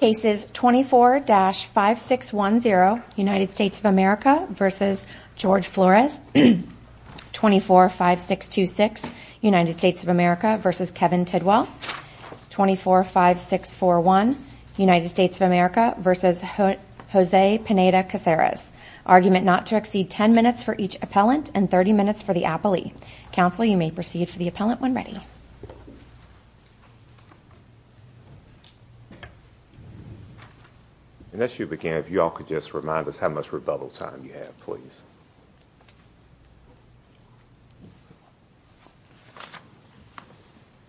Cases 24-5610, United States of America v. Jorge Flores 24-5626, United States of America v. Kevin Tidwell 24-5641, United States of America v. Jose Pineda Caceres Argument not to exceed 10 minutes for each appellant and 30 minutes for the appellee Counsel, you may proceed for the appellant when ready And as you begin, if you all could just remind us how much rebuttal time you have, please.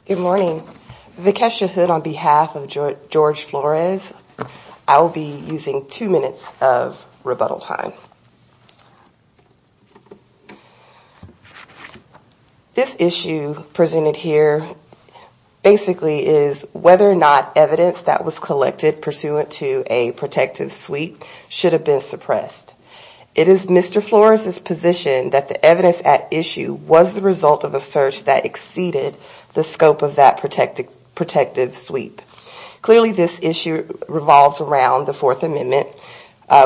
Good morning. Vikesha Hood on behalf of Jorge Flores I will be using two minutes of rebuttal time. This issue presented here basically is whether or not evidence that was collected pursuant to a protective sweep should have been suppressed. It is Mr. Flores' position that the evidence at issue was the result of a search that exceeded the scope of that protective sweep. Clearly this issue revolves around the Fourth Amendment,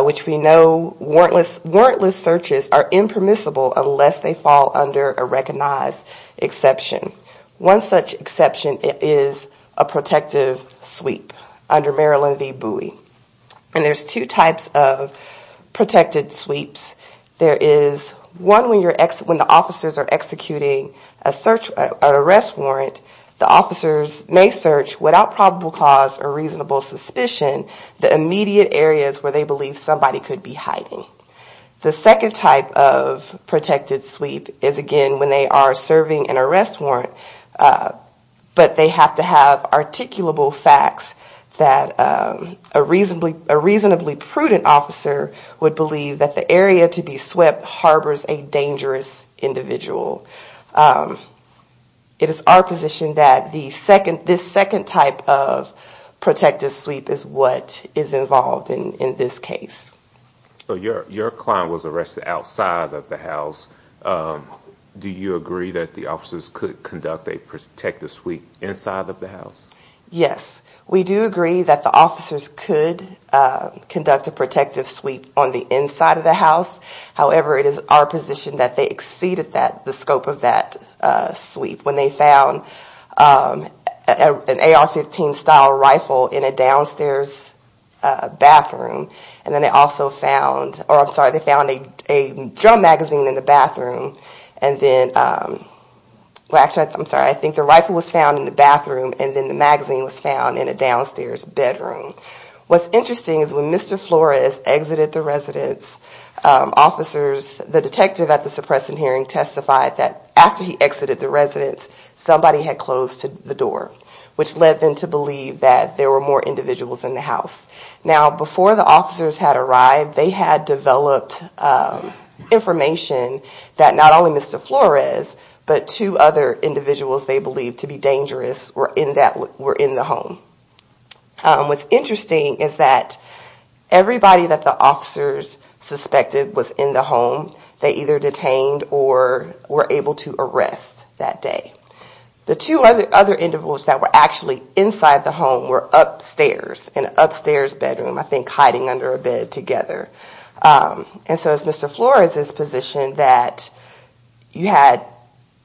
which we know warrantless searches are impermissible unless they fall under a recognized exception. One such exception is a protective sweep under Maryland v. Bowie. And there's two types of protected sweeps. There is one when the officers are executing an arrest warrant, the officers may search without probable cause or reasonable suspicion the immediate areas where they believe somebody could be hiding. The second type of protected sweep is again when they are serving an arrest warrant, but they have to have articulable facts that a reasonably prudent officer would believe that the area to be swept harbors a dangerous individual. It is our position that this second type of protected sweep is what is involved in this case. Your client was arrested outside of the house. Do you agree that the officers could conduct a protective sweep inside of the house? We do agree that the officers could conduct a protective sweep on the inside of the house. However, it is our position that they exceeded the scope of that sweep when they found an AR-15 style rifle in a downstairs bathroom. And then they also found, or I'm sorry, they found a drum magazine in the bathroom. And then, well actually, I'm sorry, I think the rifle was found in the bathroom and then the magazine was found in a downstairs bedroom. What's interesting is when Mr. Flores exited the residence, officers, the detective at the suppression hearing testified that after he exited the residence, somebody had closed the door. Which led them to believe that there were more individuals in the house. Now, before the officers had arrived, they had developed information that not only Mr. Flores, but two other individuals they believed to be dangerous were in the home. What's interesting is that everybody that the officers suspected was in the home, they either detained or were able to arrest that day. The two other individuals that were actually inside the home were upstairs, in an upstairs bedroom, I think hiding under a bed together. And so it's Mr. Flores' position that you had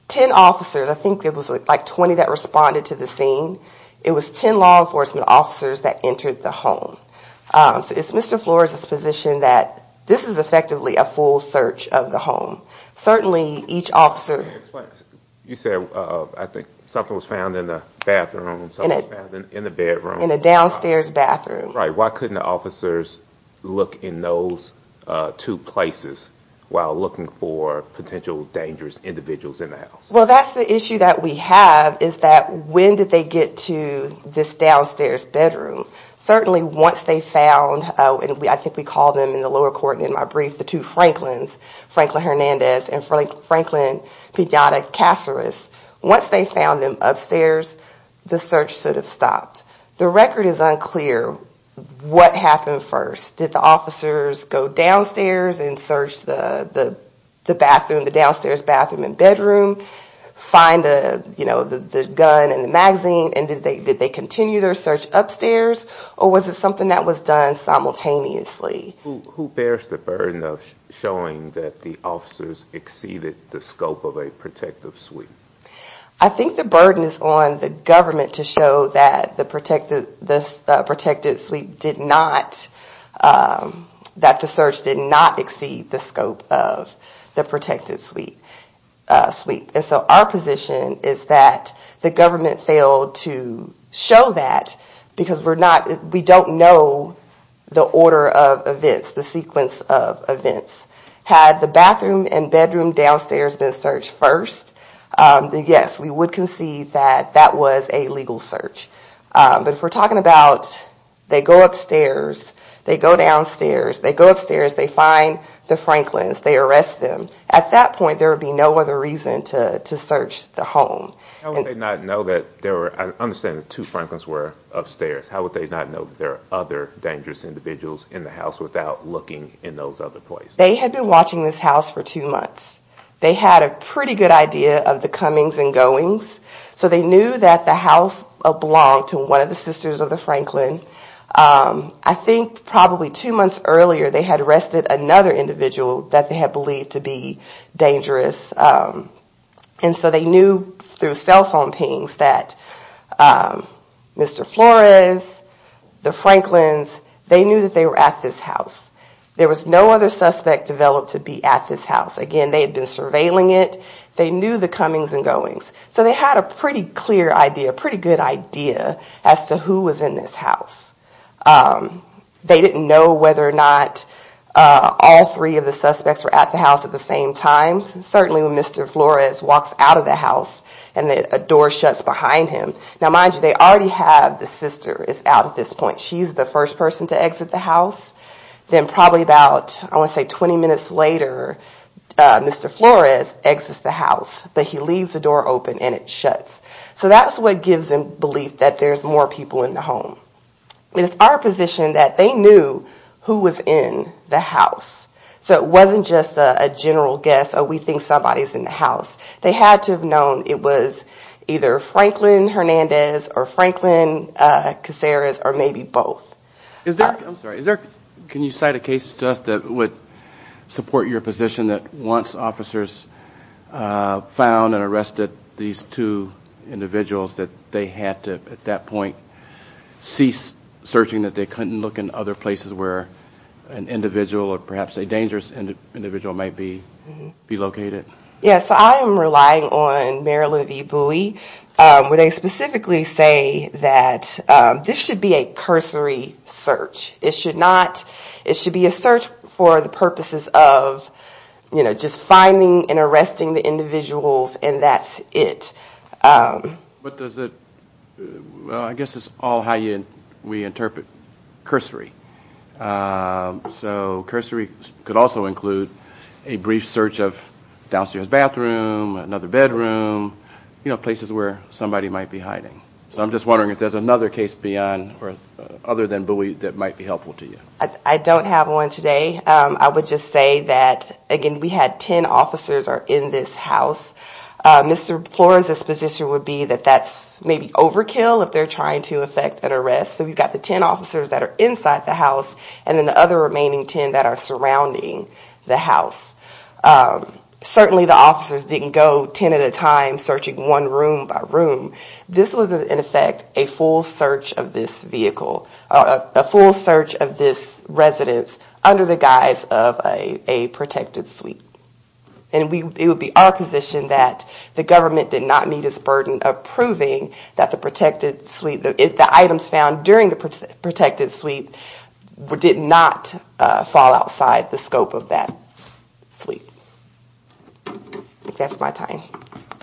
10 officers, I think it was like 20 that responded to the scene. It was 10 law enforcement officers that entered the home. So it's Mr. Flores' position that this is effectively a full search of the home. You said something was found in the bathroom, something was found in the bedroom. In a downstairs bathroom. Right, why couldn't the officers look in those two places while looking for potential dangerous individuals in the house? Well, that's the issue that we have is that when did they get to this downstairs bedroom? Certainly once they found, I think we called them in the lower court in my brief, the two Franklins, Franklin Hernandez and Franklin Piata Caceres. Once they found them upstairs, the search should have stopped. The record is unclear what happened first. Did the officers go downstairs and search the bathroom, the downstairs bathroom and bedroom? Find the gun and the magazine and did they continue their search upstairs? Or was it something that was done simultaneously? Who bears the burden of showing that the officers exceeded the scope of a protective sweep? I think the burden is on the government to show that the search did not exceed the scope of the protective sweep. And so our position is that the government failed to show that because we don't know the order of events, the sequence of events. Had the bathroom and bedroom downstairs been searched first, then yes, we would concede that that was a legal search. But if we're talking about they go upstairs, they go downstairs, they go upstairs, they find the Franklins, they arrest them, at that point there would be no other reason to search the home. How would they not know that there were, I understand the two Franklins were upstairs, how would they not know that there are other dangerous individuals in the house without looking in those other places? They had been watching this house for two months. They had a pretty good idea of the comings and goings, so they knew that the house belonged to one of the sisters of the Franklin. I think probably two months earlier they had arrested another individual that they had believed to be dangerous. And so they knew through cell phone pings that Mr. Flores, the Franklins, they knew that they were at this house. There was no other suspect developed to be at this house. Again, they had been surveilling it, they knew the comings and goings. So they had a pretty clear idea, a pretty good idea as to who was in this house. They didn't know whether or not all three of the suspects were at the house at the same time. Certainly when Mr. Flores walks out of the house and a door shuts behind him. Now mind you, they already have the sister is out at this point. She's the first person to exit the house. Then probably about, I want to say 20 minutes later, Mr. Flores exits the house, but he leaves the door open and it shuts. So that's what gives them belief that there's more people in the home. It's our position that they knew who was in the house. So it wasn't just a general guess, oh we think somebody's in the house. They had to have known it was either Franklin Hernandez or Franklin Caceres or maybe both. Can you cite a case to us that would support your position that once officers found and arrested these two individuals that they had to at that point cease searching, that they couldn't look in other places where an individual or perhaps a dangerous individual might be located? Yes, I am relying on Mary Lou V. Bowie where they specifically say that this should be a cursory search. It should be a search for the purposes of just finding and arresting the individuals and that's it. But does it, well I guess it's all how we interpret cursory. So cursory could also include a brief search of downstairs bathroom, another bedroom, you know, places where somebody might be hiding. So I'm just wondering if there's another case beyond or other than Bowie that might be helpful to you. I don't have one today. I would just say that, again, we had 10 officers are in this house. Mr. Flores' position would be that that's maybe overkill if they're trying to effect an arrest. So we've got the 10 officers that are inside the house and then the other remaining 10 that are surrounding the house. Certainly the officers didn't go 10 at a time searching one room by room. This was in effect a full search of this vehicle, a full search of this residence under the guise of a protected suite. And it would be our position that the government did not meet its burden of proving that the protected suite, the items found during the protected suite did not fall outside the scope of that suite. I think that's my time.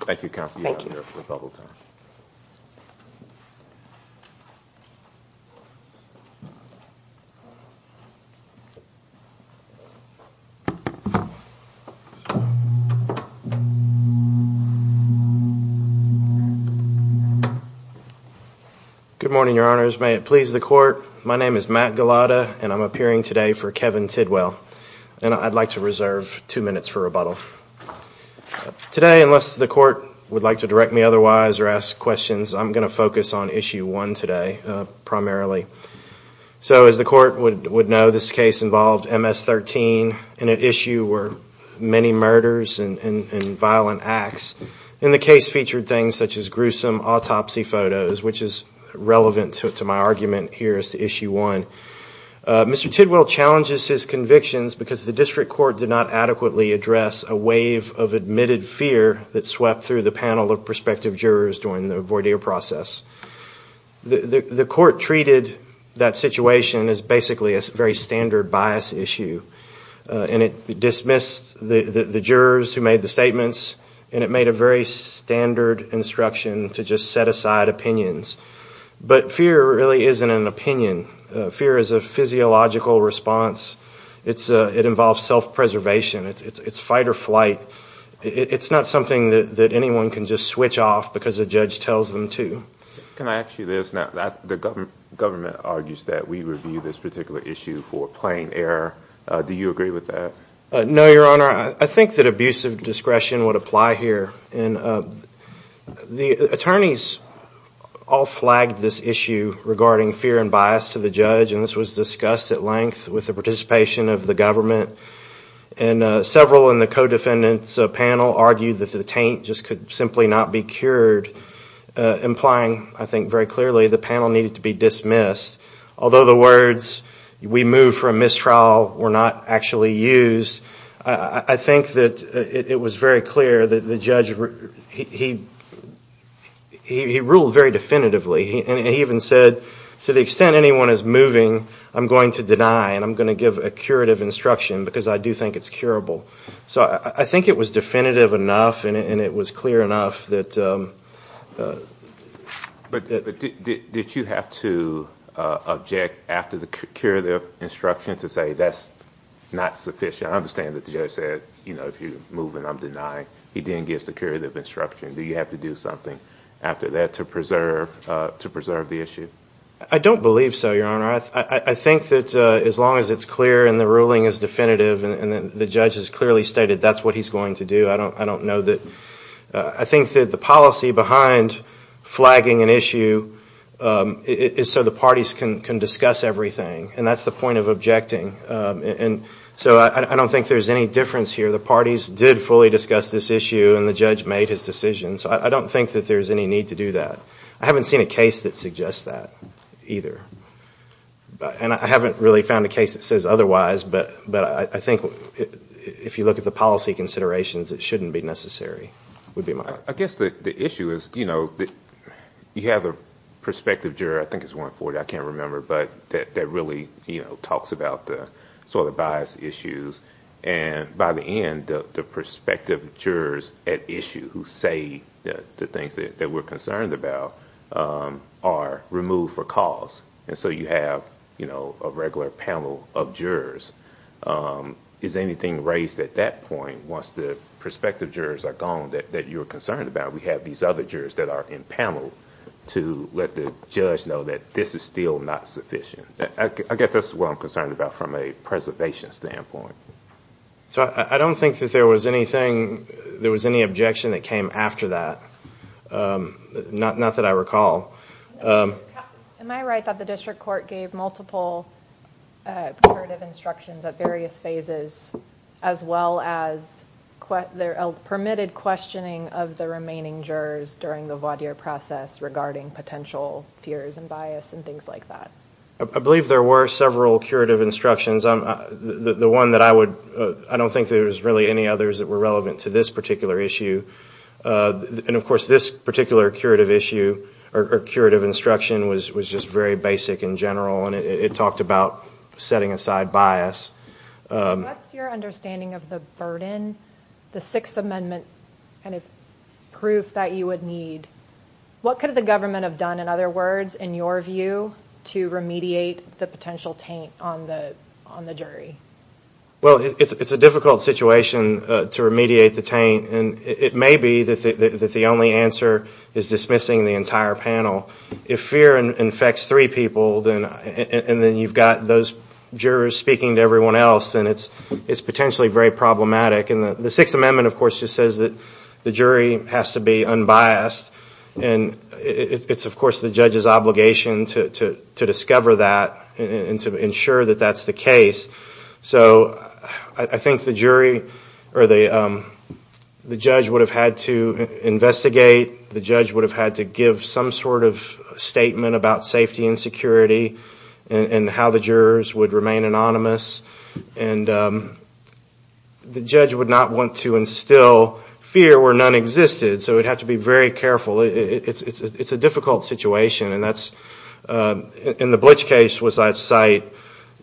Good morning, Your Honors. May it please the Court, my name is Matt Gulotta and I'm appearing today for Kevin Tidwell. And I'd like to reserve two minutes for rebuttal. Today, unless the Court would like to direct me otherwise or ask questions, I'm going to focus on Issue 1 today, primarily. So as the Court would know, this case involved MS-13 and at issue were many murders and violent acts. And the case featured things such as gruesome autopsy photos, which is relevant to my argument here as to Issue 1. Mr. Tidwell challenges his convictions because the District Court did not adequately address a wave of admitted fear that swept through the panel of prospective jurors during the voir dire process. The Court treated that situation as basically a very standard bias issue. And it dismissed the jurors who made the statements and it made a very standard instruction to just set aside opinions. But fear really isn't an opinion. Fear is a physiological response. It involves self-preservation. It's fight or flight. It's not something that anyone can just switch off because a judge tells them to. Can I ask you this? The government argues that we review this particular issue for plain error. Do you agree with that? No, Your Honor. I think that abuse of discretion would apply here. The attorneys all flagged this issue regarding fear and bias to the judge. And this was discussed at length with the participation of the government. And several in the co-defendants panel argued that the taint just could simply not be cured. Implying, I think very clearly, the panel needed to be dismissed. Although the words, we move for a mistrial, were not actually used. I think that it was very clear that the judge, he ruled very definitively. He even said, to the extent anyone is moving, I'm going to deny and I'm going to give a curative instruction. Because I do think it's curable. But did you have to object after the curative instruction to say that's not sufficient? I understand that the judge said, if you're moving, I'm denying. He then gives the curative instruction. Do you have to do something after that to preserve the issue? I don't believe so, Your Honor. I think that as long as it's clear and the ruling is definitive, and the judge has clearly stated that's what he's going to do, I don't know that... I think that the policy behind flagging an issue is so the parties can discuss everything. And that's the point of objecting. So I don't think there's any difference here. The parties did fully discuss this issue and the judge made his decision. So I don't think that there's any need to do that. I haven't seen a case that suggests that either. And I haven't really found a case that says otherwise, but I think if you look at the policy considerations, it shouldn't be necessary. I guess the issue is, you know, you have a prospective juror, I think it's 140, I can't remember, but that really talks about the bias issues. And by the end, the prospective jurors at issue who say the things that we're concerned about are removed for cause. And so you have, you know, a regular panel of jurors. Is anything raised at that point once the prospective jurors are gone that you're concerned about? We have these other jurors that are in panel to let the judge know that this is still not sufficient. I guess that's what I'm concerned about from a preservation standpoint. So I don't think that there was anything, there was any objection that came after that. Not that I recall. Am I right that the district court gave multiple curative instructions at various phases, as well as a permitted questioning of the remaining jurors during the voir dire process regarding potential fears and bias and things like that? I believe there were several curative instructions. The one that I would, I don't think there's really any others that were relevant to this particular issue. And of course, this particular curative issue or curative instruction was just very basic in general, and it talked about setting aside bias. What's your understanding of the burden, the Sixth Amendment kind of proof that you would need? What could the government have done, in other words, in your view, to remediate the potential taint on the jury? Well, it's a difficult situation to remediate the taint. And it may be that the only answer is dismissing the entire panel. If fear infects three people and then you've got those jurors speaking to everyone else, then it's potentially very problematic. And the Sixth Amendment, of course, just says that the jury has to be unbiased. And it's, of course, the judge's obligation to discover that and to ensure that that's the case. So I think the jury or the judge would have had to investigate. The judge would have had to give some sort of statement about safety and security and how the jurors would remain anonymous. And the judge would not want to instill fear where none existed. So it would have to be very careful. It's a difficult situation. In the Blitch case, as I cite,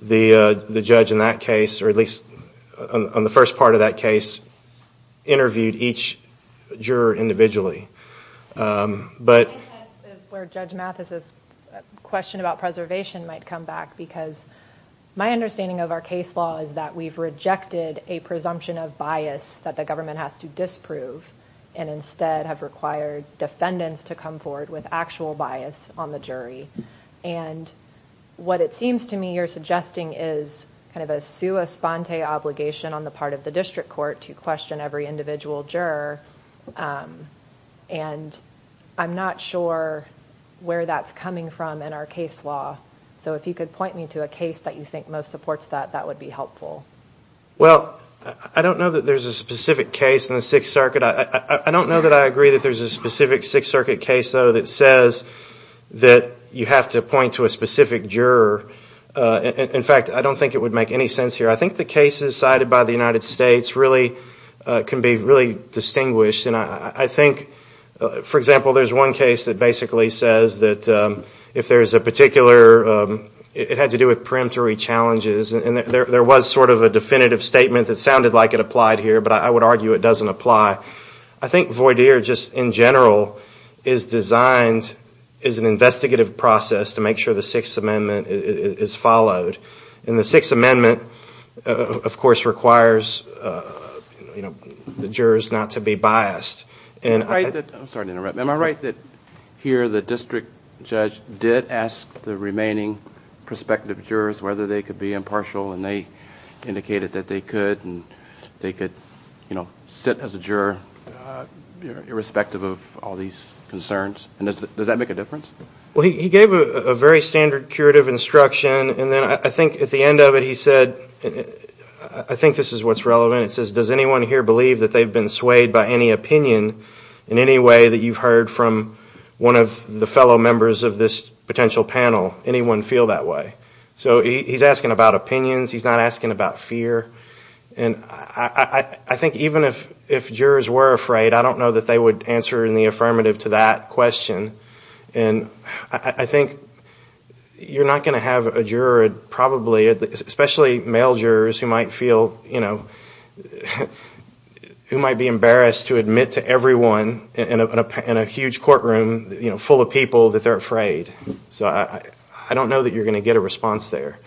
the judge in that case, or at least on the first part of that case, interviewed each juror individually. I think that's where Judge Mathis's question about preservation might come back, because my understanding of our case law is that we've rejected a presumption of bias that the government has to disprove and instead have required defendants to come forward with actual bias on the jury. And what it seems to me you're suggesting is kind of a sua sponte obligation on the part of the district court to question every individual juror. And I'm not sure where that's coming from in our case law. So if you could point me to a case that you think most supports that, that would be helpful. Well, I don't know that there's a specific case in the Sixth Circuit. I don't know that I agree that there's a specific Sixth Circuit case, though, that says that you have to point to a specific juror. In fact, I don't think it would make any sense here. I think the cases cited by the United States really can be really distinguished. And I think, for example, there's one case that basically says that if there's a particular, it had to do with preemptory challenges, and there was sort of a definitive statement that sounded like it applied here, but I would argue it doesn't apply. I think voir dire just in general is designed as an investigative process to make sure the Sixth Amendment is followed. And the Sixth Amendment, of course, requires the jurors not to be biased. I'm sorry to interrupt. Am I right that here the district judge did ask the remaining prospective jurors whether they could be impartial, and they indicated that they could, and they could sit as a juror, irrespective of all these concerns? Does that make a difference? Well, he gave a very standard curative instruction, and then I think at the end of it he said, I think this is what's relevant. It says, does anyone here believe that they've been swayed by any opinion in any way that you've heard from one of the fellow members of this potential panel? Anyone feel that way? So he's asking about opinions, he's not asking about fear. And I think even if jurors were afraid, I don't know that they would answer in the affirmative to that question. And I think you're not going to have a juror, probably, especially male jurors, who might feel, you know, who might be embarrassed to admit to everyone in a huge courtroom full of people that they're afraid. I don't know that you're going to get a response there.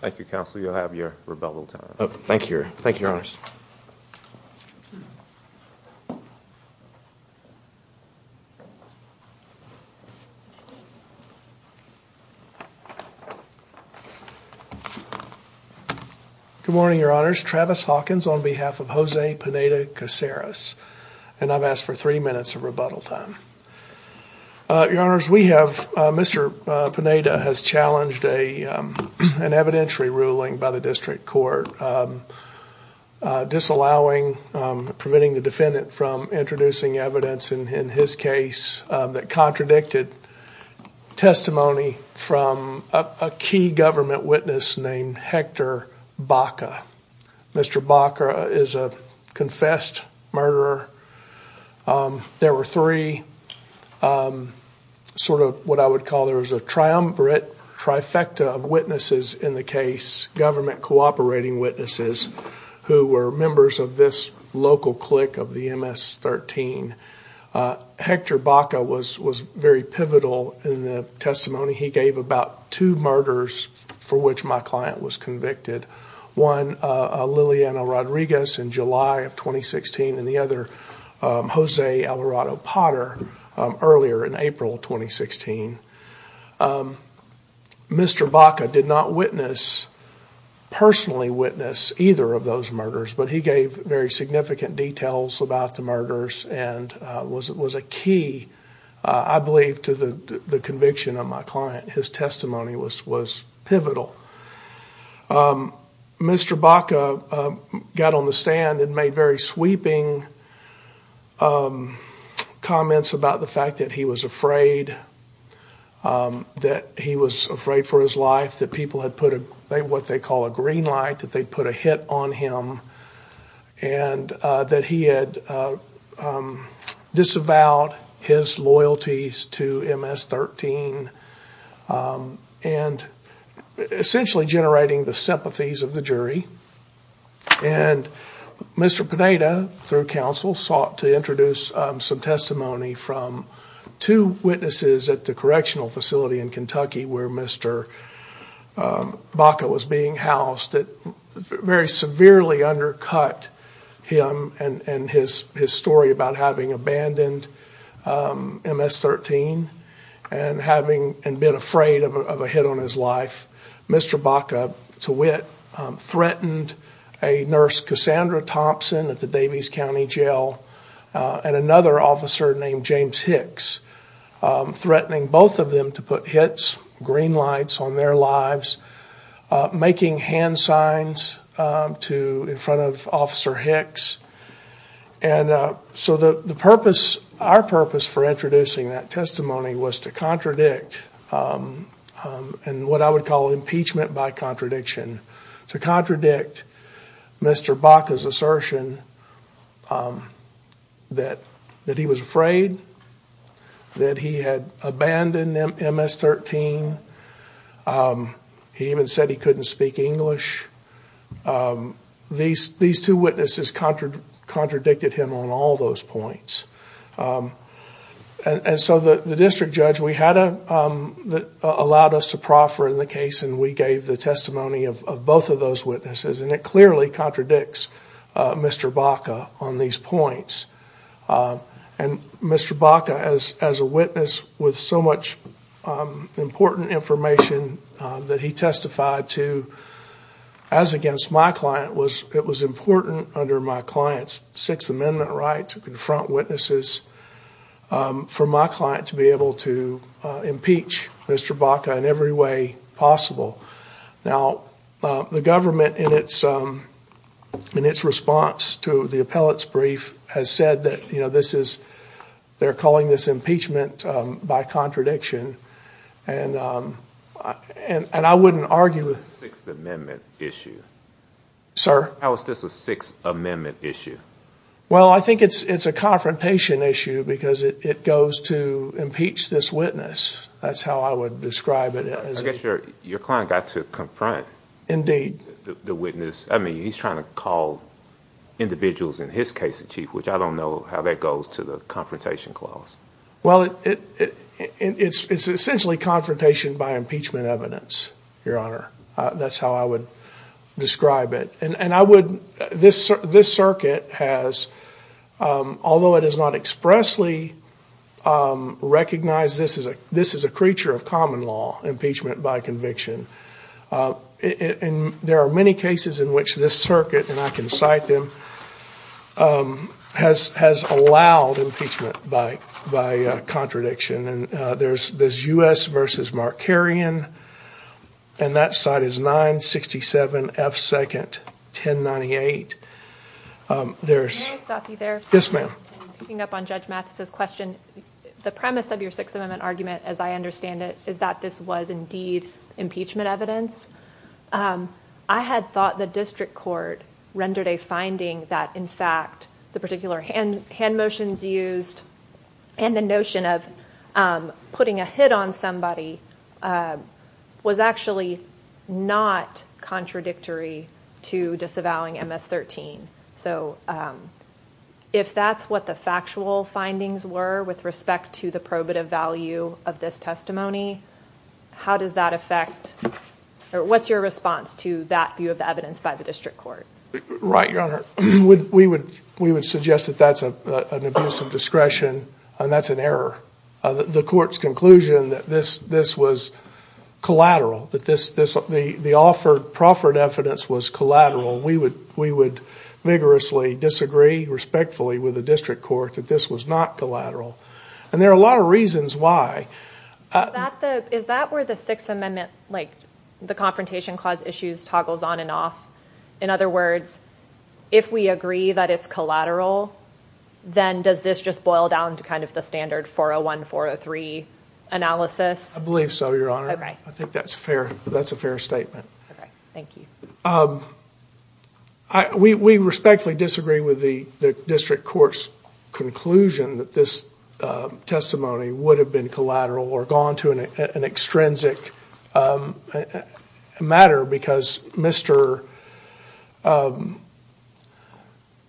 Thank you, Counsel. You'll have your rebuttal time. Good morning, Your Honors. Travis Hawkins on behalf of Jose Pineda-Caceres. And I've asked for three minutes of rebuttal time. Your Honors, we have, Mr. Pineda has challenged an evidentiary ruling by the district court, disallowing, preventing the defendant from introducing evidence in his case that contradicted testimony from a key government witness named Hector Baca. Mr. Baca is a confessed murderer. There were three sort of what I would call, there was a triumvirate trifecta of witnesses in the case, government cooperating witnesses, who were members of this local clique of the MS-13. Hector Baca was very pivotal in the testimony. He gave about two murders for which my client was convicted. One, Liliana Rodriguez in July of 2016, and the other, Jose Alvarado-Potter earlier in April of 2016. Mr. Baca did not witness, personally witness, either of those murders, but he gave very significant details about the murders and was a key, I believe, to the conviction of my client. His testimony was pivotal. Mr. Baca got on the stand and made very sweeping comments about the fact that he was afraid, that he was afraid for his life, that people had put what they call a green light, that they put a hit on him, and that he had disavowed his loyalties to MS-13. And essentially generating the sympathies of the jury. And Mr. Pineda, through counsel, sought to introduce some testimony from two witnesses at the correctional facility in Kentucky where Mr. Baca was being housed. It very severely undercut him and his story about having abandoned MS-13 and having been a fugitive. He was afraid of a hit on his life. Mr. Baca, to wit, threatened a nurse, Cassandra Thompson, at the Davies County Jail, and another officer named James Hicks, threatening both of them to put hits, green lights, on their lives, making hand signs in front of Officer Hicks. And so the purpose, our purpose for introducing that testimony was to contradict, and what I would call impeachment by contradiction, to contradict Mr. Baca's assertion that he was afraid, that he had abandoned MS-13, he even said he couldn't speak English. These two witnesses contradicted him on all those points. And so the district judge, we had a, allowed us to proffer in the case, and we gave the testimony of both of those witnesses. And it clearly contradicts Mr. Baca on these points. And Mr. Baca, as a witness, with so much important information that he testified to, he said he was afraid to speak English. As against my client, it was important under my client's Sixth Amendment right to confront witnesses, for my client to be able to impeach Mr. Baca in every way possible. Now, the government, in its response to the appellate's brief, has said that this is, they're calling this impeachment by contradiction. And I wouldn't argue with... How is this a Sixth Amendment issue? Well, I think it's a confrontation issue, because it goes to impeach this witness. That's how I would describe it. I guess your client got to confront the witness. I mean, he's trying to call individuals in his case in chief, which I don't know how that goes to the confrontation clause. Well, it's essentially confrontation by impeachment evidence, Your Honor. That's how I would describe it. And I would, this circuit has, although it has not expressly recognized this as a creature of common law, impeachment by conviction, and there are many cases in which this circuit, and I can cite them, has allowed impeachment by contradiction. And there's U.S. v. Mark Carrion, and that side is 967 F. 2nd, 1098. Yes, ma'am. Picking up on Judge Mathis's question, the premise of your Sixth Amendment argument, as I understand it, is that this was indeed impeachment evidence. I had thought the district court rendered a finding that, in fact, the particular hand motions used and the notion of putting a hit on somebody was actually not contradictory to disavowing MS-13. So if that's what the factual findings were with respect to the probative value of this testimony, how does that affect, or what's your response to that view of the evidence by the district court? Right, Your Honor. We would suggest that that's an abuse of discretion, and that's an error. The court's conclusion that this was collateral, that the offered, proffered evidence was collateral. We would vigorously disagree, respectfully, with the district court that this was not collateral. And there are a lot of reasons why. Is that where the Sixth Amendment, like the Confrontation Clause issues toggles on and off? In other words, if we agree that it's collateral, then does this just boil down to kind of the standard 0-1, 4-0-3 analysis? I believe so, Your Honor. I think that's a fair statement. We respectfully disagree with the district court's conclusion that this testimony would have been collateral or gone to an extrinsic matter, because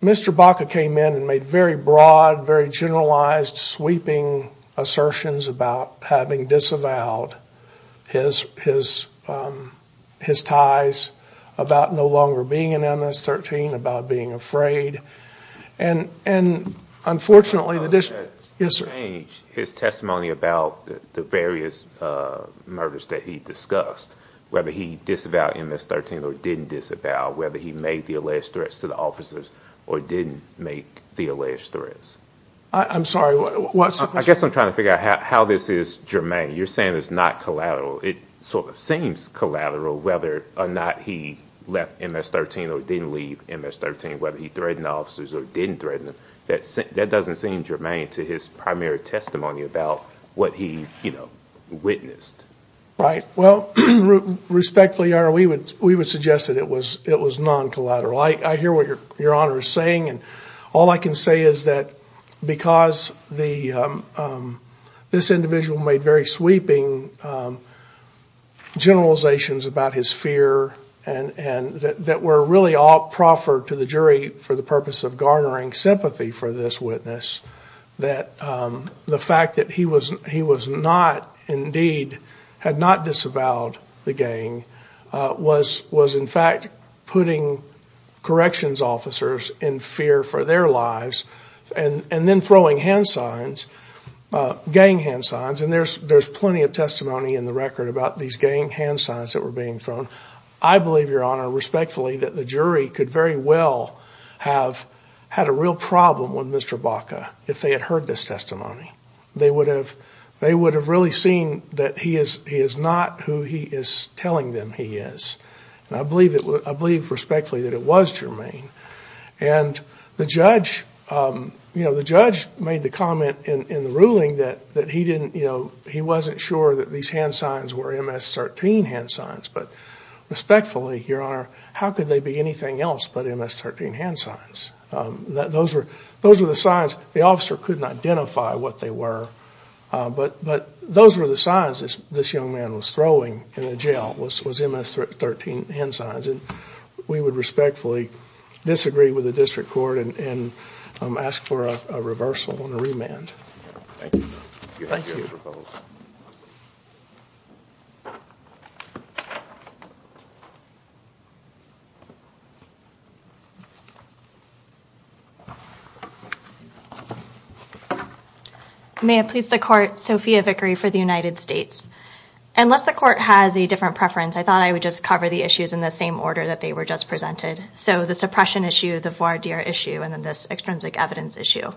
Mr. Baca came in and made very broad, very generalized, sweeping, assertions about having disavowed his ties, about no longer being an MS-13, about being afraid. And unfortunately, the district... His testimony about the various murders that he discussed, whether he disavowed MS-13 or didn't disavow, whether he made the alleged threats to the officers or didn't make the alleged threats. I guess I'm trying to figure out how this is germane. You're saying it's not collateral. It sort of seems collateral, whether or not he left MS-13 or didn't leave MS-13, whether he threatened the officers or didn't threaten them. That doesn't seem germane to his primary testimony about what he witnessed. Right. Well, respectfully, Your Honor, we would suggest that it was non-collateral. I hear what Your Honor is saying. All I can say is that because this individual made very sweeping generalizations about his fear and that were really all proffered to the jury for the purpose of garnering sympathy for this witness, that the fact that he was not, indeed, had not disavowed the gang was, in fact, putting corrections officers in fear for their lives and then throwing hand signs, gang hand signs. And there's plenty of testimony in the record about these gang hand signs that were being thrown. I believe, Your Honor, respectfully, that the jury could very well have had a real problem with Mr. Baca if they had heard this testimony. They would have really seen that he is not who he is telling them he is. And I believe, respectfully, that it was germane. And the judge made the comment in the ruling that he wasn't sure that these hand signs were MS-13 hand signs. But respectfully, Your Honor, how could they be anything else but MS-13 hand signs? Those were the signs. The officer couldn't identify what they were. But those were the signs this young man was throwing in the jail was MS-13 hand signs. And we would respectfully disagree with the district court and ask for a reversal and a remand. Thank you. May it please the court. Sophia Vickery for the United States. Unless the court has a different preference, I thought I would just cover the issues in the same order that they were just presented. So the suppression issue, the voir dire issue, and then this extrinsic evidence issue.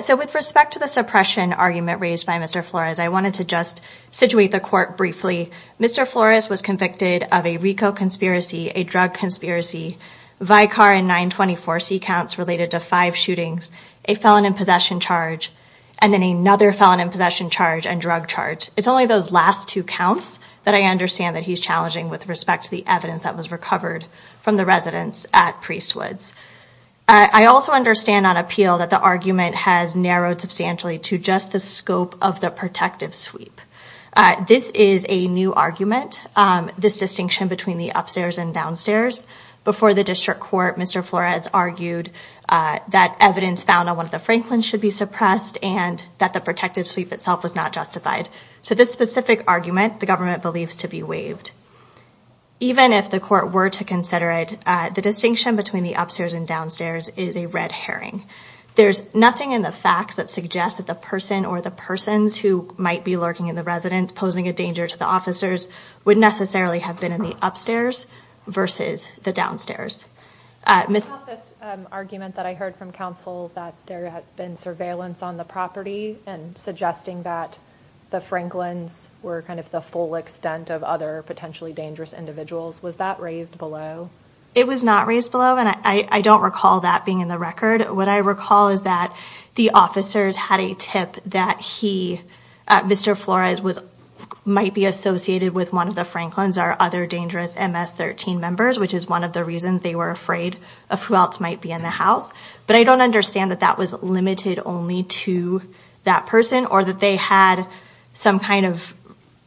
So with respect to the suppression argument raised by Mr. Flores, I wanted to just situate the court briefly. Mr. Flores was convicted of a RICO conspiracy, a drug conspiracy, Vicar and 924C counts related to five shootings, a felon in possession charge, and then another felon in possession charge and drug charge. It's only those last two counts that I understand that he's challenging with respect to the evidence that was recovered from the residents at Priest Woods. I also understand on appeal that the argument has narrowed substantially to just the scope of the protective sweep. This is a new argument, this distinction between the upstairs and downstairs. Before the district court, Mr. Flores argued that evidence found on one of the Franklin's should be suppressed and that the protective sweep itself was not justified. So this specific argument, the government believes to be waived. Even if the court were to consider it, the distinction between the upstairs and downstairs is a red herring. There's nothing in the facts that suggests that the person or the persons who might be lurking in the residence, posing a danger to the officers, would necessarily have been in the upstairs versus the downstairs. About this argument that I heard from counsel that there had been surveillance on the property and suggesting that the Franklin's were kind of the full extent of other potentially dangerous individuals, was that raised below? It was not raised below, and I don't recall that being in the record. What I recall is that the officers had a tip that he, Mr. Flores, might be associated with one of the Franklin's or other dangerous MS-13 members, which is one of the reasons they were afraid of who else might be in the house. But I don't understand that that was limited only to that person or that they had some kind of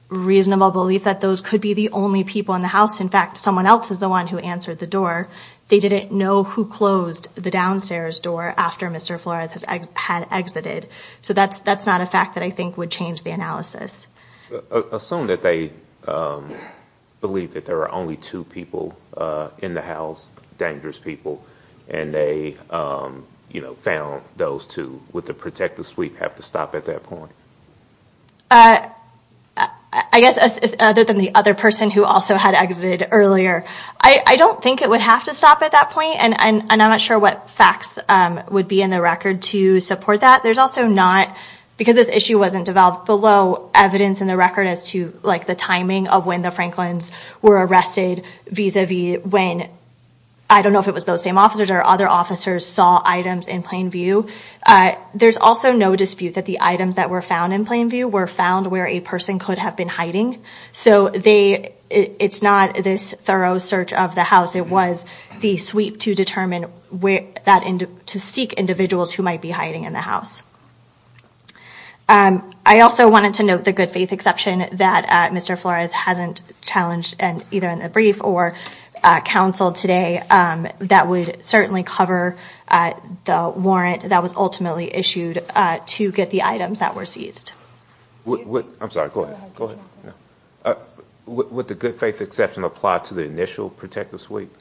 reasonable belief that those could be the only people in the house. In fact, someone else is the one who answered the door. They didn't know who closed the downstairs door after Mr. Flores had exited. So that's not a fact that I think would change the analysis. Assume that they believe that there are only two people in the house, dangerous people, and they found those two. Would the protective suite have to stop at that point? I guess other than the other person who also had exited earlier. I don't think it would have to stop at that point, and I'm not sure what facts would be in the record to support that. There's also not, because this issue wasn't developed below evidence in the record as to the timing of when the Franklin's were arrested vis-a-vis when, I don't know if it was those same officers or other officers saw items in plain view. There's also no dispute that the items that were found in plain view were found where a person could have been hiding. So it's not this thorough search of the house. It was the sweep to seek individuals who might be hiding in the house. I also wanted to note the good faith exception that Mr. Flores hasn't challenged either in the brief or counseled today. That would certainly cover the warrant that was ultimately issued to get the items that were seized. I'm sorry, go ahead. Would the good faith exception apply to the initial protective sweep?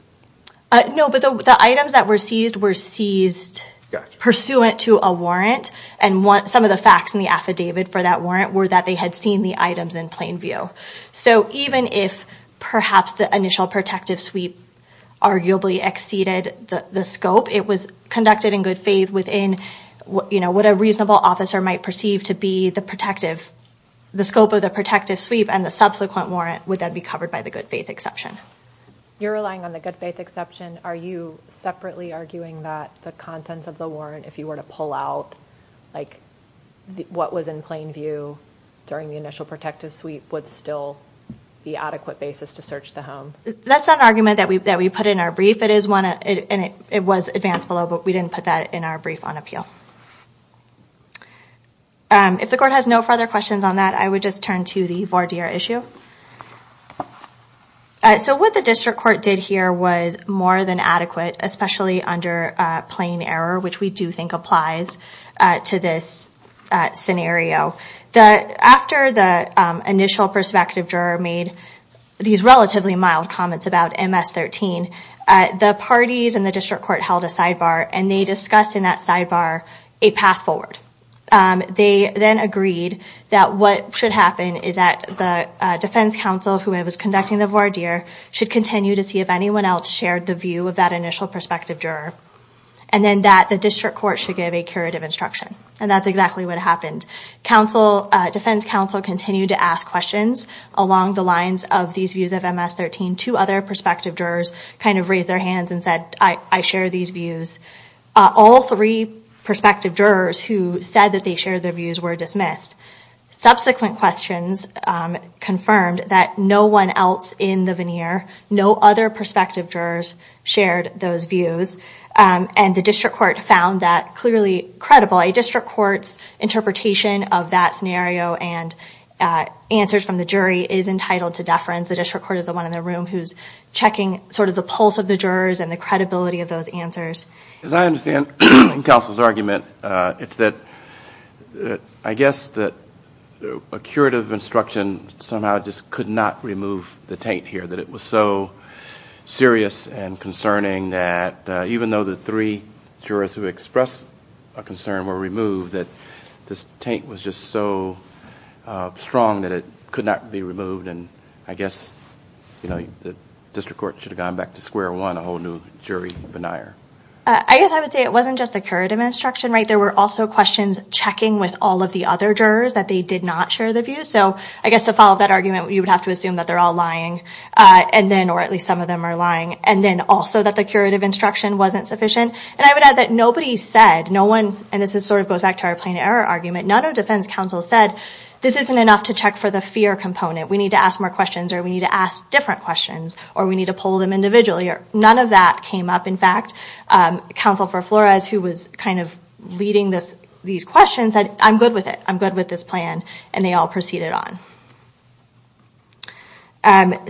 No, but the items that were seized were seized pursuant to a warrant, and some of the facts in the affidavit for that warrant were that they had seen the items in plain view. So even if perhaps the initial protective sweep arguably exceeded the scope, it was conducted in good faith within what a reasonable officer might perceive to be the scope of the protective sweep, and the subsequent warrant would then be covered by the good faith exception. You're relying on the good faith exception. Are you separately arguing that the contents of the warrant, if you were to pull out what was in plain view during the initial protective sweep, would still be adequate basis to search the home? That's not an argument that we put in our brief, and it was advanced below, but we didn't put that in our brief on appeal. If the court has no further questions on that, I would just turn to the voir dire issue. So what the district court did here was more than adequate, especially under plain error, which we do think applies to this scenario. After the initial perspective juror made these relatively mild comments about MS-13, the parties in the district court held a sidebar, and they discussed in that sidebar a path forward. They then agreed that what should happen is that the defense counsel who was conducting the voir dire should continue to see if anyone else shared the view of that initial perspective juror, and then that the district court should give a curative instruction. And that's exactly what happened. Defense counsel continued to ask questions along the lines of these views of MS-13. Two other perspective jurors kind of raised their hands and said, I share these views. All three perspective jurors who said that they shared their views were dismissed. Subsequent questions confirmed that no one else in the veneer, no other perspective jurors shared those views, and the district court found that clearly credible. A district court's interpretation of that scenario and answers from the jury is entitled to deference. The district court is the one in the room who's checking sort of the pulse of the jurors and the credibility of those answers. As I understand counsel's argument, it's that I guess that a curative instruction somehow just could not remove the taint here. That it was so serious and concerning that even though the three jurors who expressed a concern were removed, that this taint was just so strong that it could not be removed. And I guess the district court should have gone back to square one, a whole new jury veneer. I guess I would say it wasn't just the curative instruction, right? There were also questions checking with all of the other jurors that they did not share the views. So I guess to follow that argument, you would have to assume that they're all lying, or at least some of them are lying. And then also that the curative instruction wasn't sufficient. And I would add that nobody said, and this sort of goes back to our plain error argument, none of defense counsel said, this isn't enough to check for the fear component. We need to ask more questions, or we need to ask different questions, or we need to poll them individually. None of that came up, in fact. Counsel for Flores, who was kind of leading these questions, said, I'm good with it. I'm good with this plan. And they all proceeded on.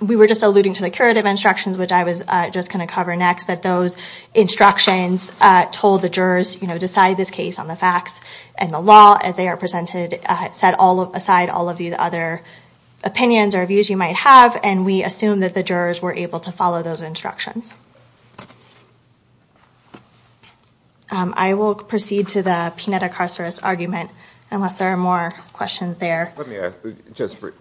We were just alluding to the curative instructions, which I was just going to cover next, that those instructions told the jurors, decide this case on the facts and the law as they are presented, set aside all of these other opinions or views you might have, and we assumed that the jurors were able to follow those instructions. I will proceed to the Pineda-Carceres argument, unless there are more questions there. Let me ask,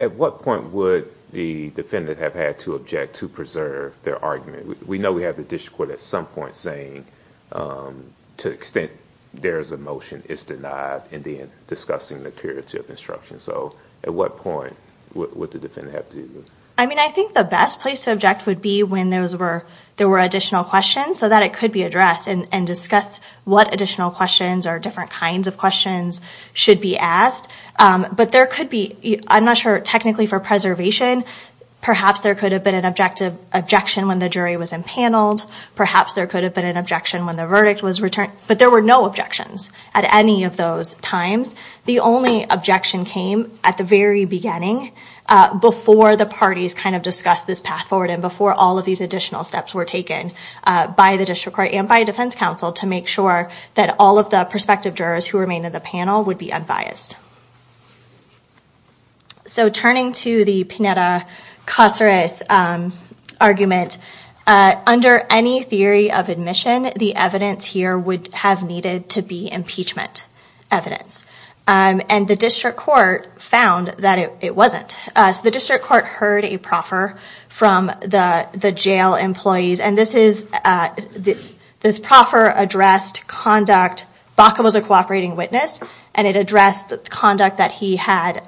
at what point would the defendant have had to object to preserve their argument? We know we have the district court at some point saying, to the extent there is a motion, it's denied in discussing the curative instruction. So at what point would the defendant have to do this? I think the best place to object would be when there were additional questions, so that it could be addressed and discussed what additional questions or different kinds of questions should be asked. But there could be, I'm not sure, technically for preservation, perhaps there could have been an objection when the jury was impaneled. Perhaps there could have been an objection when the verdict was returned. But there were no objections at any of those times. The only objection came at the very beginning, before the parties discussed this path forward and before all of these additional steps were taken by the district court and by defense counsel to make sure that all of the prospective jurors who remained in the panel would be unbiased. So turning to the Pineda-Carceres argument, under any theory of admission, the evidence here would have needed to be impeachment evidence. And the district court found that it wasn't. So the district court heard a proffer from the jail employees, and this proffer addressed conduct, Baca was a cooperating witness, and it addressed conduct that he had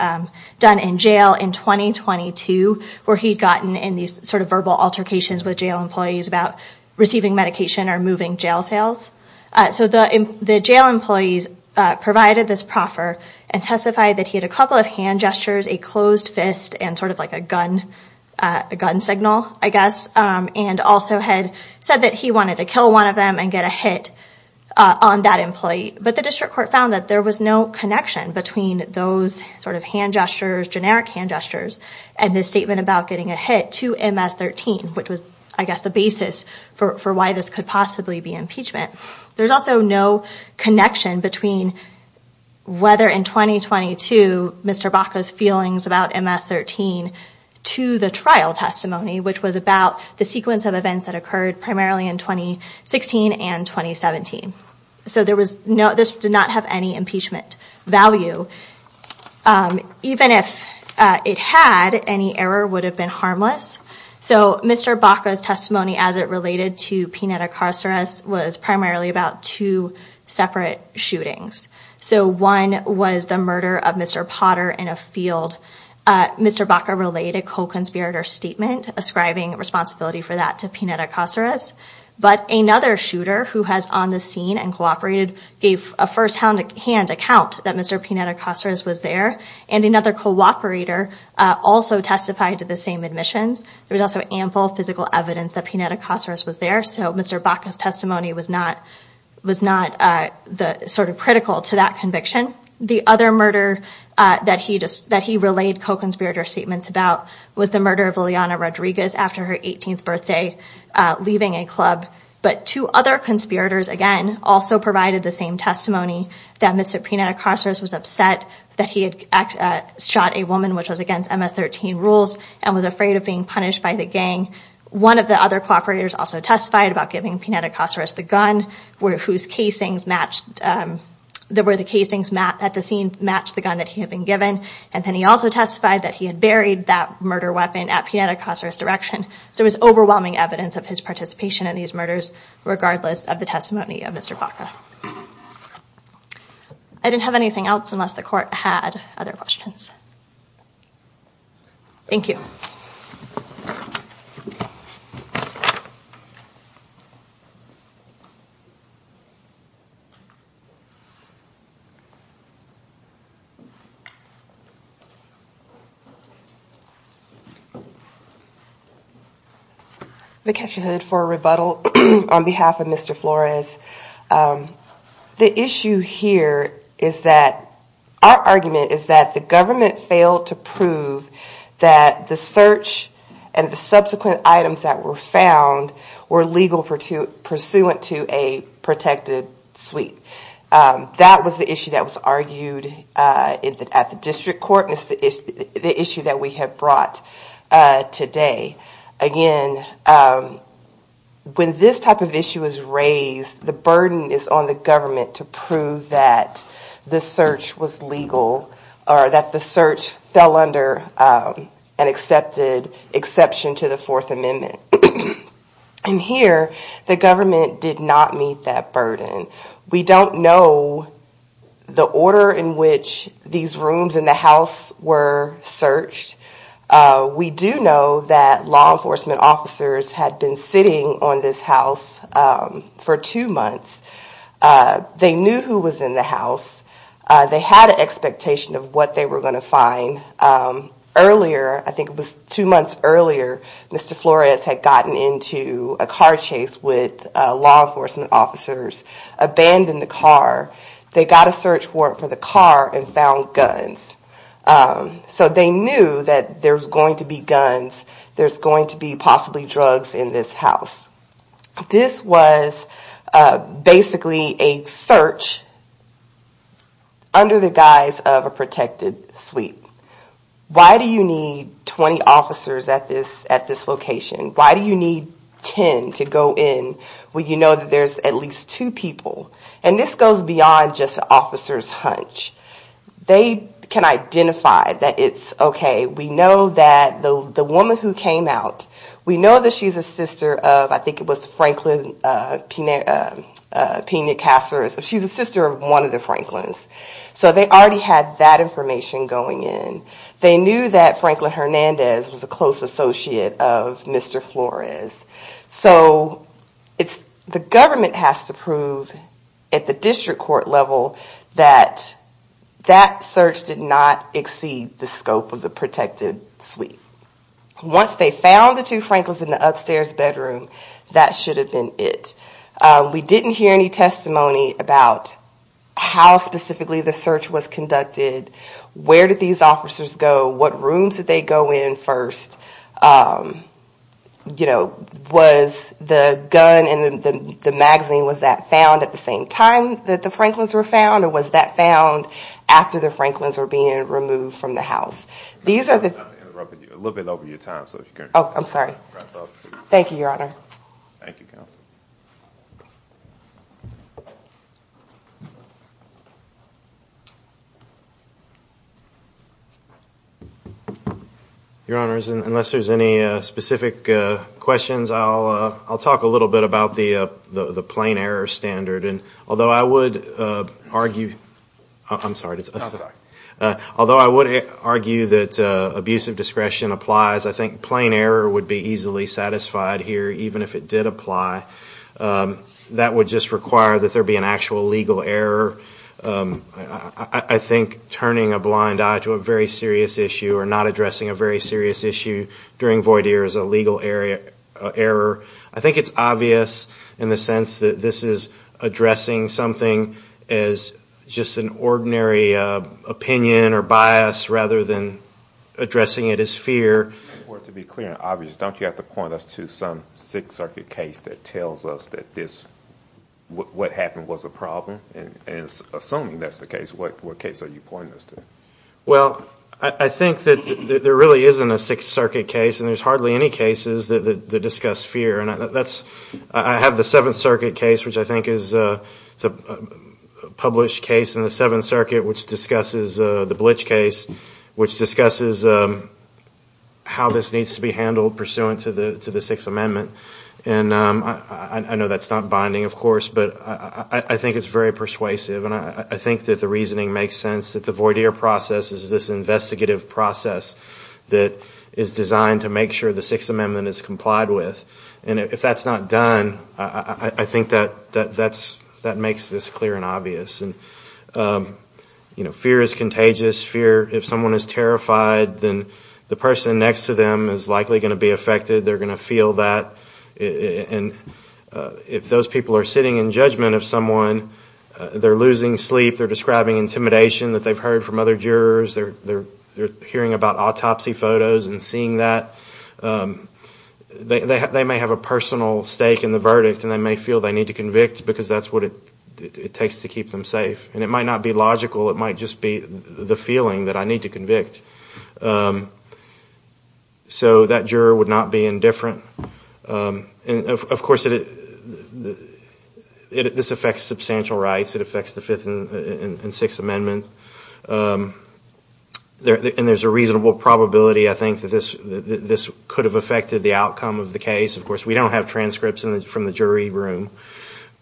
done in jail in 2022, where he'd gotten in these verbal altercations with jail employees about receiving medication or moving jail cells. So the jail employees provided this proffer and testified that he had a couple of hand gestures, a closed fist, and a gun signal, I guess, and also had said that he wanted to kill one of them and get a hit on that employee. But the district court found that there was no connection between those hand gestures, generic hand gestures, and this statement about getting a hit to MS-13, which was, I guess, the basis for why this could possibly be impeachment. There's also no connection between whether in 2022 Mr. Baca's feelings about MS-13 to the trial testimony, which was about the sequence of events that occurred primarily in 2016 and 2017. So this did not have any impeachment value. Even if it had, any error would have been harmless. So Mr. Baca's testimony as it related to Pineda-Caceres was primarily about two separate shootings. So one was the murder of Mr. Potter in a field. Mr. Baca relayed a co-conspirator statement ascribing responsibility for that to Pineda-Caceres, but another shooter who was on the scene and cooperated gave a first-hand account that Mr. Pineda-Caceres was there, and another cooperator also testified to the same admissions. There was also ample physical evidence that Pineda-Caceres was there, so Mr. Baca's testimony was not sort of critical to that conviction. The other murder that he relayed co-conspirator statements about was the murder of Liliana Rodriguez after her 18th birthday, leaving a club. But two other conspirators, again, also provided the same testimony that Mr. Pineda-Caceres was upset that he had shot a woman, which was against MS-13 rules, and was afraid of being punished by the gang. One of the other cooperators also testified about giving Pineda-Caceres the gun, where the casings at the scene matched the gun that he had been given. And then he also testified that he had buried that murder weapon at Pineda-Caceres' direction. So there was overwhelming evidence of his participation in these murders, regardless of the testimony of Mr. Baca. I didn't have anything else unless the Court had other questions. Thank you. I'm going to catch your head for a rebuttal on behalf of Mr. Flores. The issue here is that our argument is that the government failed to prove that the search and the subsequent items that were found were legal pursuant to a protected suite. That was the issue that was argued at the District Court, and it's the issue that we have brought today. Again, when this type of issue is raised, the burden is on the government to prove that the search was legal, or that the search fell under an exception to the Fourth Amendment. And here, the government did not meet that burden. We don't know the order in which these rooms in the house were searched. We do know that law enforcement officers had been sitting on this house for two months. They knew who was in the house. They had an expectation of what they were going to find. Earlier, I think it was two months earlier, Mr. Flores had gotten into a car chase with law enforcement officers, abandoned the car, they got a search warrant for the car, and found guns. So they knew that there was going to be guns, there's going to be possibly drugs in this house. This was basically a search under the guise of a protected suite. Why do you need 20 officers at this location? Why do you need 10 to go in when you know that there's at least two people? And this goes beyond just officer's hunch. They can identify that it's okay, we know that the woman who came out, we know that she's a sister of, I think it was Franklin Pena Casares, she's a sister of one of the Franklins. So they already had that information going in. They knew that Franklin Hernandez was a close associate of Mr. Flores. So the government has to prove at the district court level that that search did not exceed the scope of the protected suite. Once they found the two Franklins in the upstairs bedroom, that should have been it. We didn't hear any testimony about how specifically the search was conducted, where did these officers go, what rooms did they go in first, you know, was the gun and the magazine, was that found at the same time that the Franklins were found, or was that found after the Franklins were being removed from the house? Thank you, Your Honor. Thank you, Counsel. Your Honor, unless there's any specific questions, I'll talk a little bit about the plain error standard. Although I would argue that abuse of discretion applies, I think plain error would be easily satisfied here, even if it did apply. That would just require that there be an actual legal error. I think turning a blind eye to a very serious issue or not addressing a very serious issue during void year is a legal error. I think it's obvious in the sense that this is addressing something as just an ordinary opinion or bias rather than addressing it as fear. To be clear and obvious, don't you have to point us to some Sixth Circuit case that tells us that this, what happened was a problem? Assuming that's the case, what case are you pointing us to? Well, I think that there really isn't a Sixth Circuit case, and there's hardly any cases that discuss fear. I have the Seventh Circuit case, which I think is a published case in the Seventh Circuit, which discusses the Blitch case, which discusses how this needs to be handled pursuant to the Sixth Amendment. I know that's not binding, of course, but I think it's very persuasive. I think that the reasoning makes sense that the void year process is this investigative process that is designed to make sure the Sixth Amendment is complied with. If that's not done, I think that makes this clear and obvious. Fear is contagious. If someone is terrified, then the person next to them is likely going to be affected. They're going to feel that. And if those people are sitting in judgment of someone, they're losing sleep, they're describing intimidation that they've heard from other jurors, they're hearing about autopsy photos and seeing that, they may have a personal stake in the verdict and they may feel they need to convict because that's what it takes to keep them safe. And it might not be logical, it might just be the feeling that I need to convict. So that juror would not be indifferent. Of course, this affects substantial rights. It affects the Fifth and Sixth Amendments. And there's a reasonable probability, I think, that this could have affected the outcome of the case. Of course, we don't have transcripts from the jury room.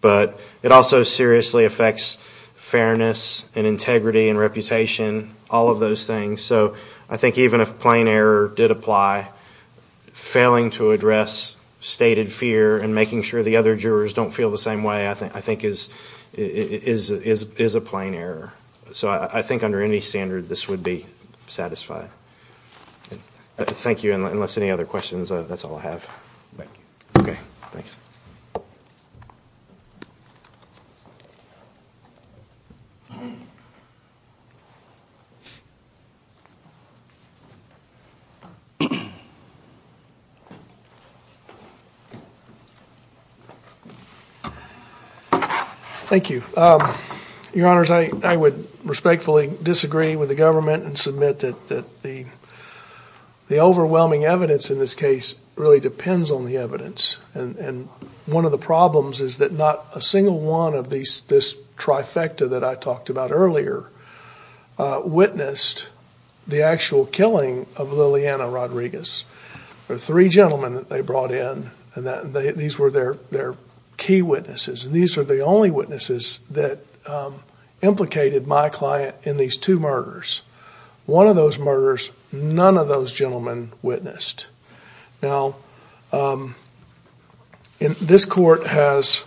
But it also seriously affects fairness and integrity and reputation, all of those things. So I think even if plain error did apply, failing to address stated fear and making sure the other jurors don't feel the same way, I think is a plain error. So I think under any standard, this would be satisfied. Thank you. Unless any other questions, that's all I have. Thank you. Thank you. Your Honors, I would respectfully disagree with the government and submit that the overwhelming evidence in this case really depends on the evidence. And one of the problems is that not a single one of this trifecta that I talked about earlier witnessed the actual killing of Liliana Rodriguez. The three gentlemen that they brought in, these were their key witnesses. And these are the only witnesses that implicated my client in these two murders. One of those murders, none of those gentlemen witnessed. And this court has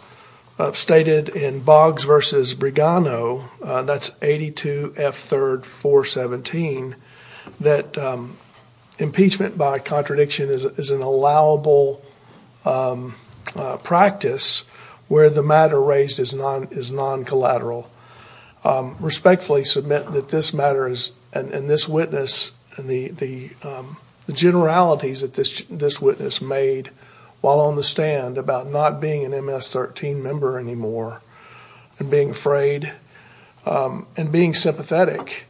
stated in Boggs v. Brigano, that's 82 F. 3rd 417, that impeachment by contradiction is an allowable practice where the matter raised is non-collateral. Respectfully submit that this matter and this witness and the generalities that this witness made while on the stand about not being an MS-13 member anymore and being afraid and being sympathetic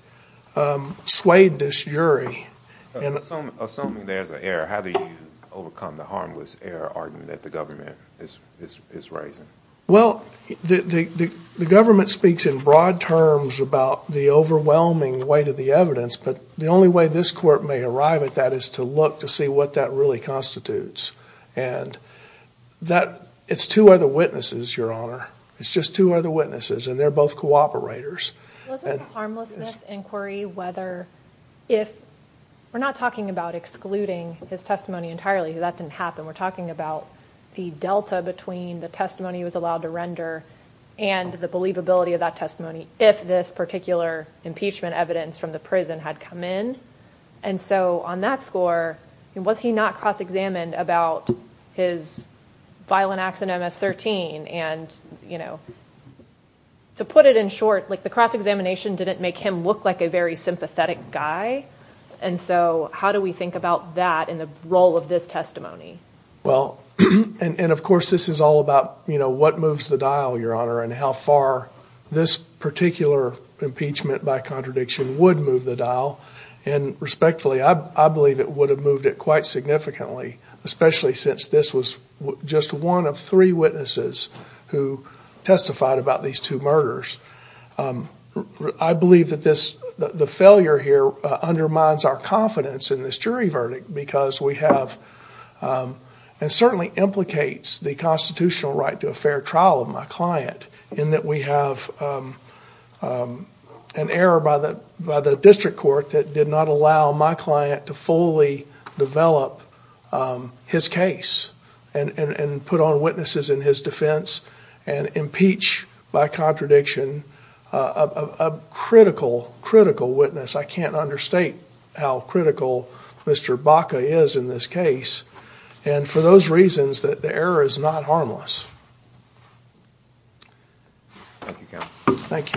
swayed this jury. Assuming there's an error, how do you overcome the harmless error argument that the government is raising? Well, the government speaks in broad terms about the overwhelming weight of the evidence, but the only way this court may arrive at that is to look to see what that really constitutes. And it's two other witnesses, Your Honor. It's just two other witnesses, and they're both cooperators. We're not talking about excluding his testimony entirely, that didn't happen. We're talking about the delta between the testimony he was allowed to render and the believability of that testimony if this particular impeachment evidence from the prison had come in. And so on that score, was he not cross-examined about his violent acts in MS-13? And to put it in short, the cross-examination didn't make him look like a very sympathetic guy. And so how do we think about that in the role of this testimony? Well, and of course this is all about what moves the dial, Your Honor, and how far this particular impeachment by contradiction would move the dial. And respectfully, I believe it would have moved it quite significantly, especially since this was just one of three witnesses who testified about these two murders. I believe that the failure here undermines our confidence in this jury verdict because we have, and certainly implicates the constitutional right to a fair trial of my client in that we have an error by the district court that did not allow my client to fully develop his case and put on witnesses in his defense and impeach by contradiction a critical, critical witness. I can't understate how critical Mr. Baca is in this case and for those reasons that the error is not harmless. Thank you, counsel.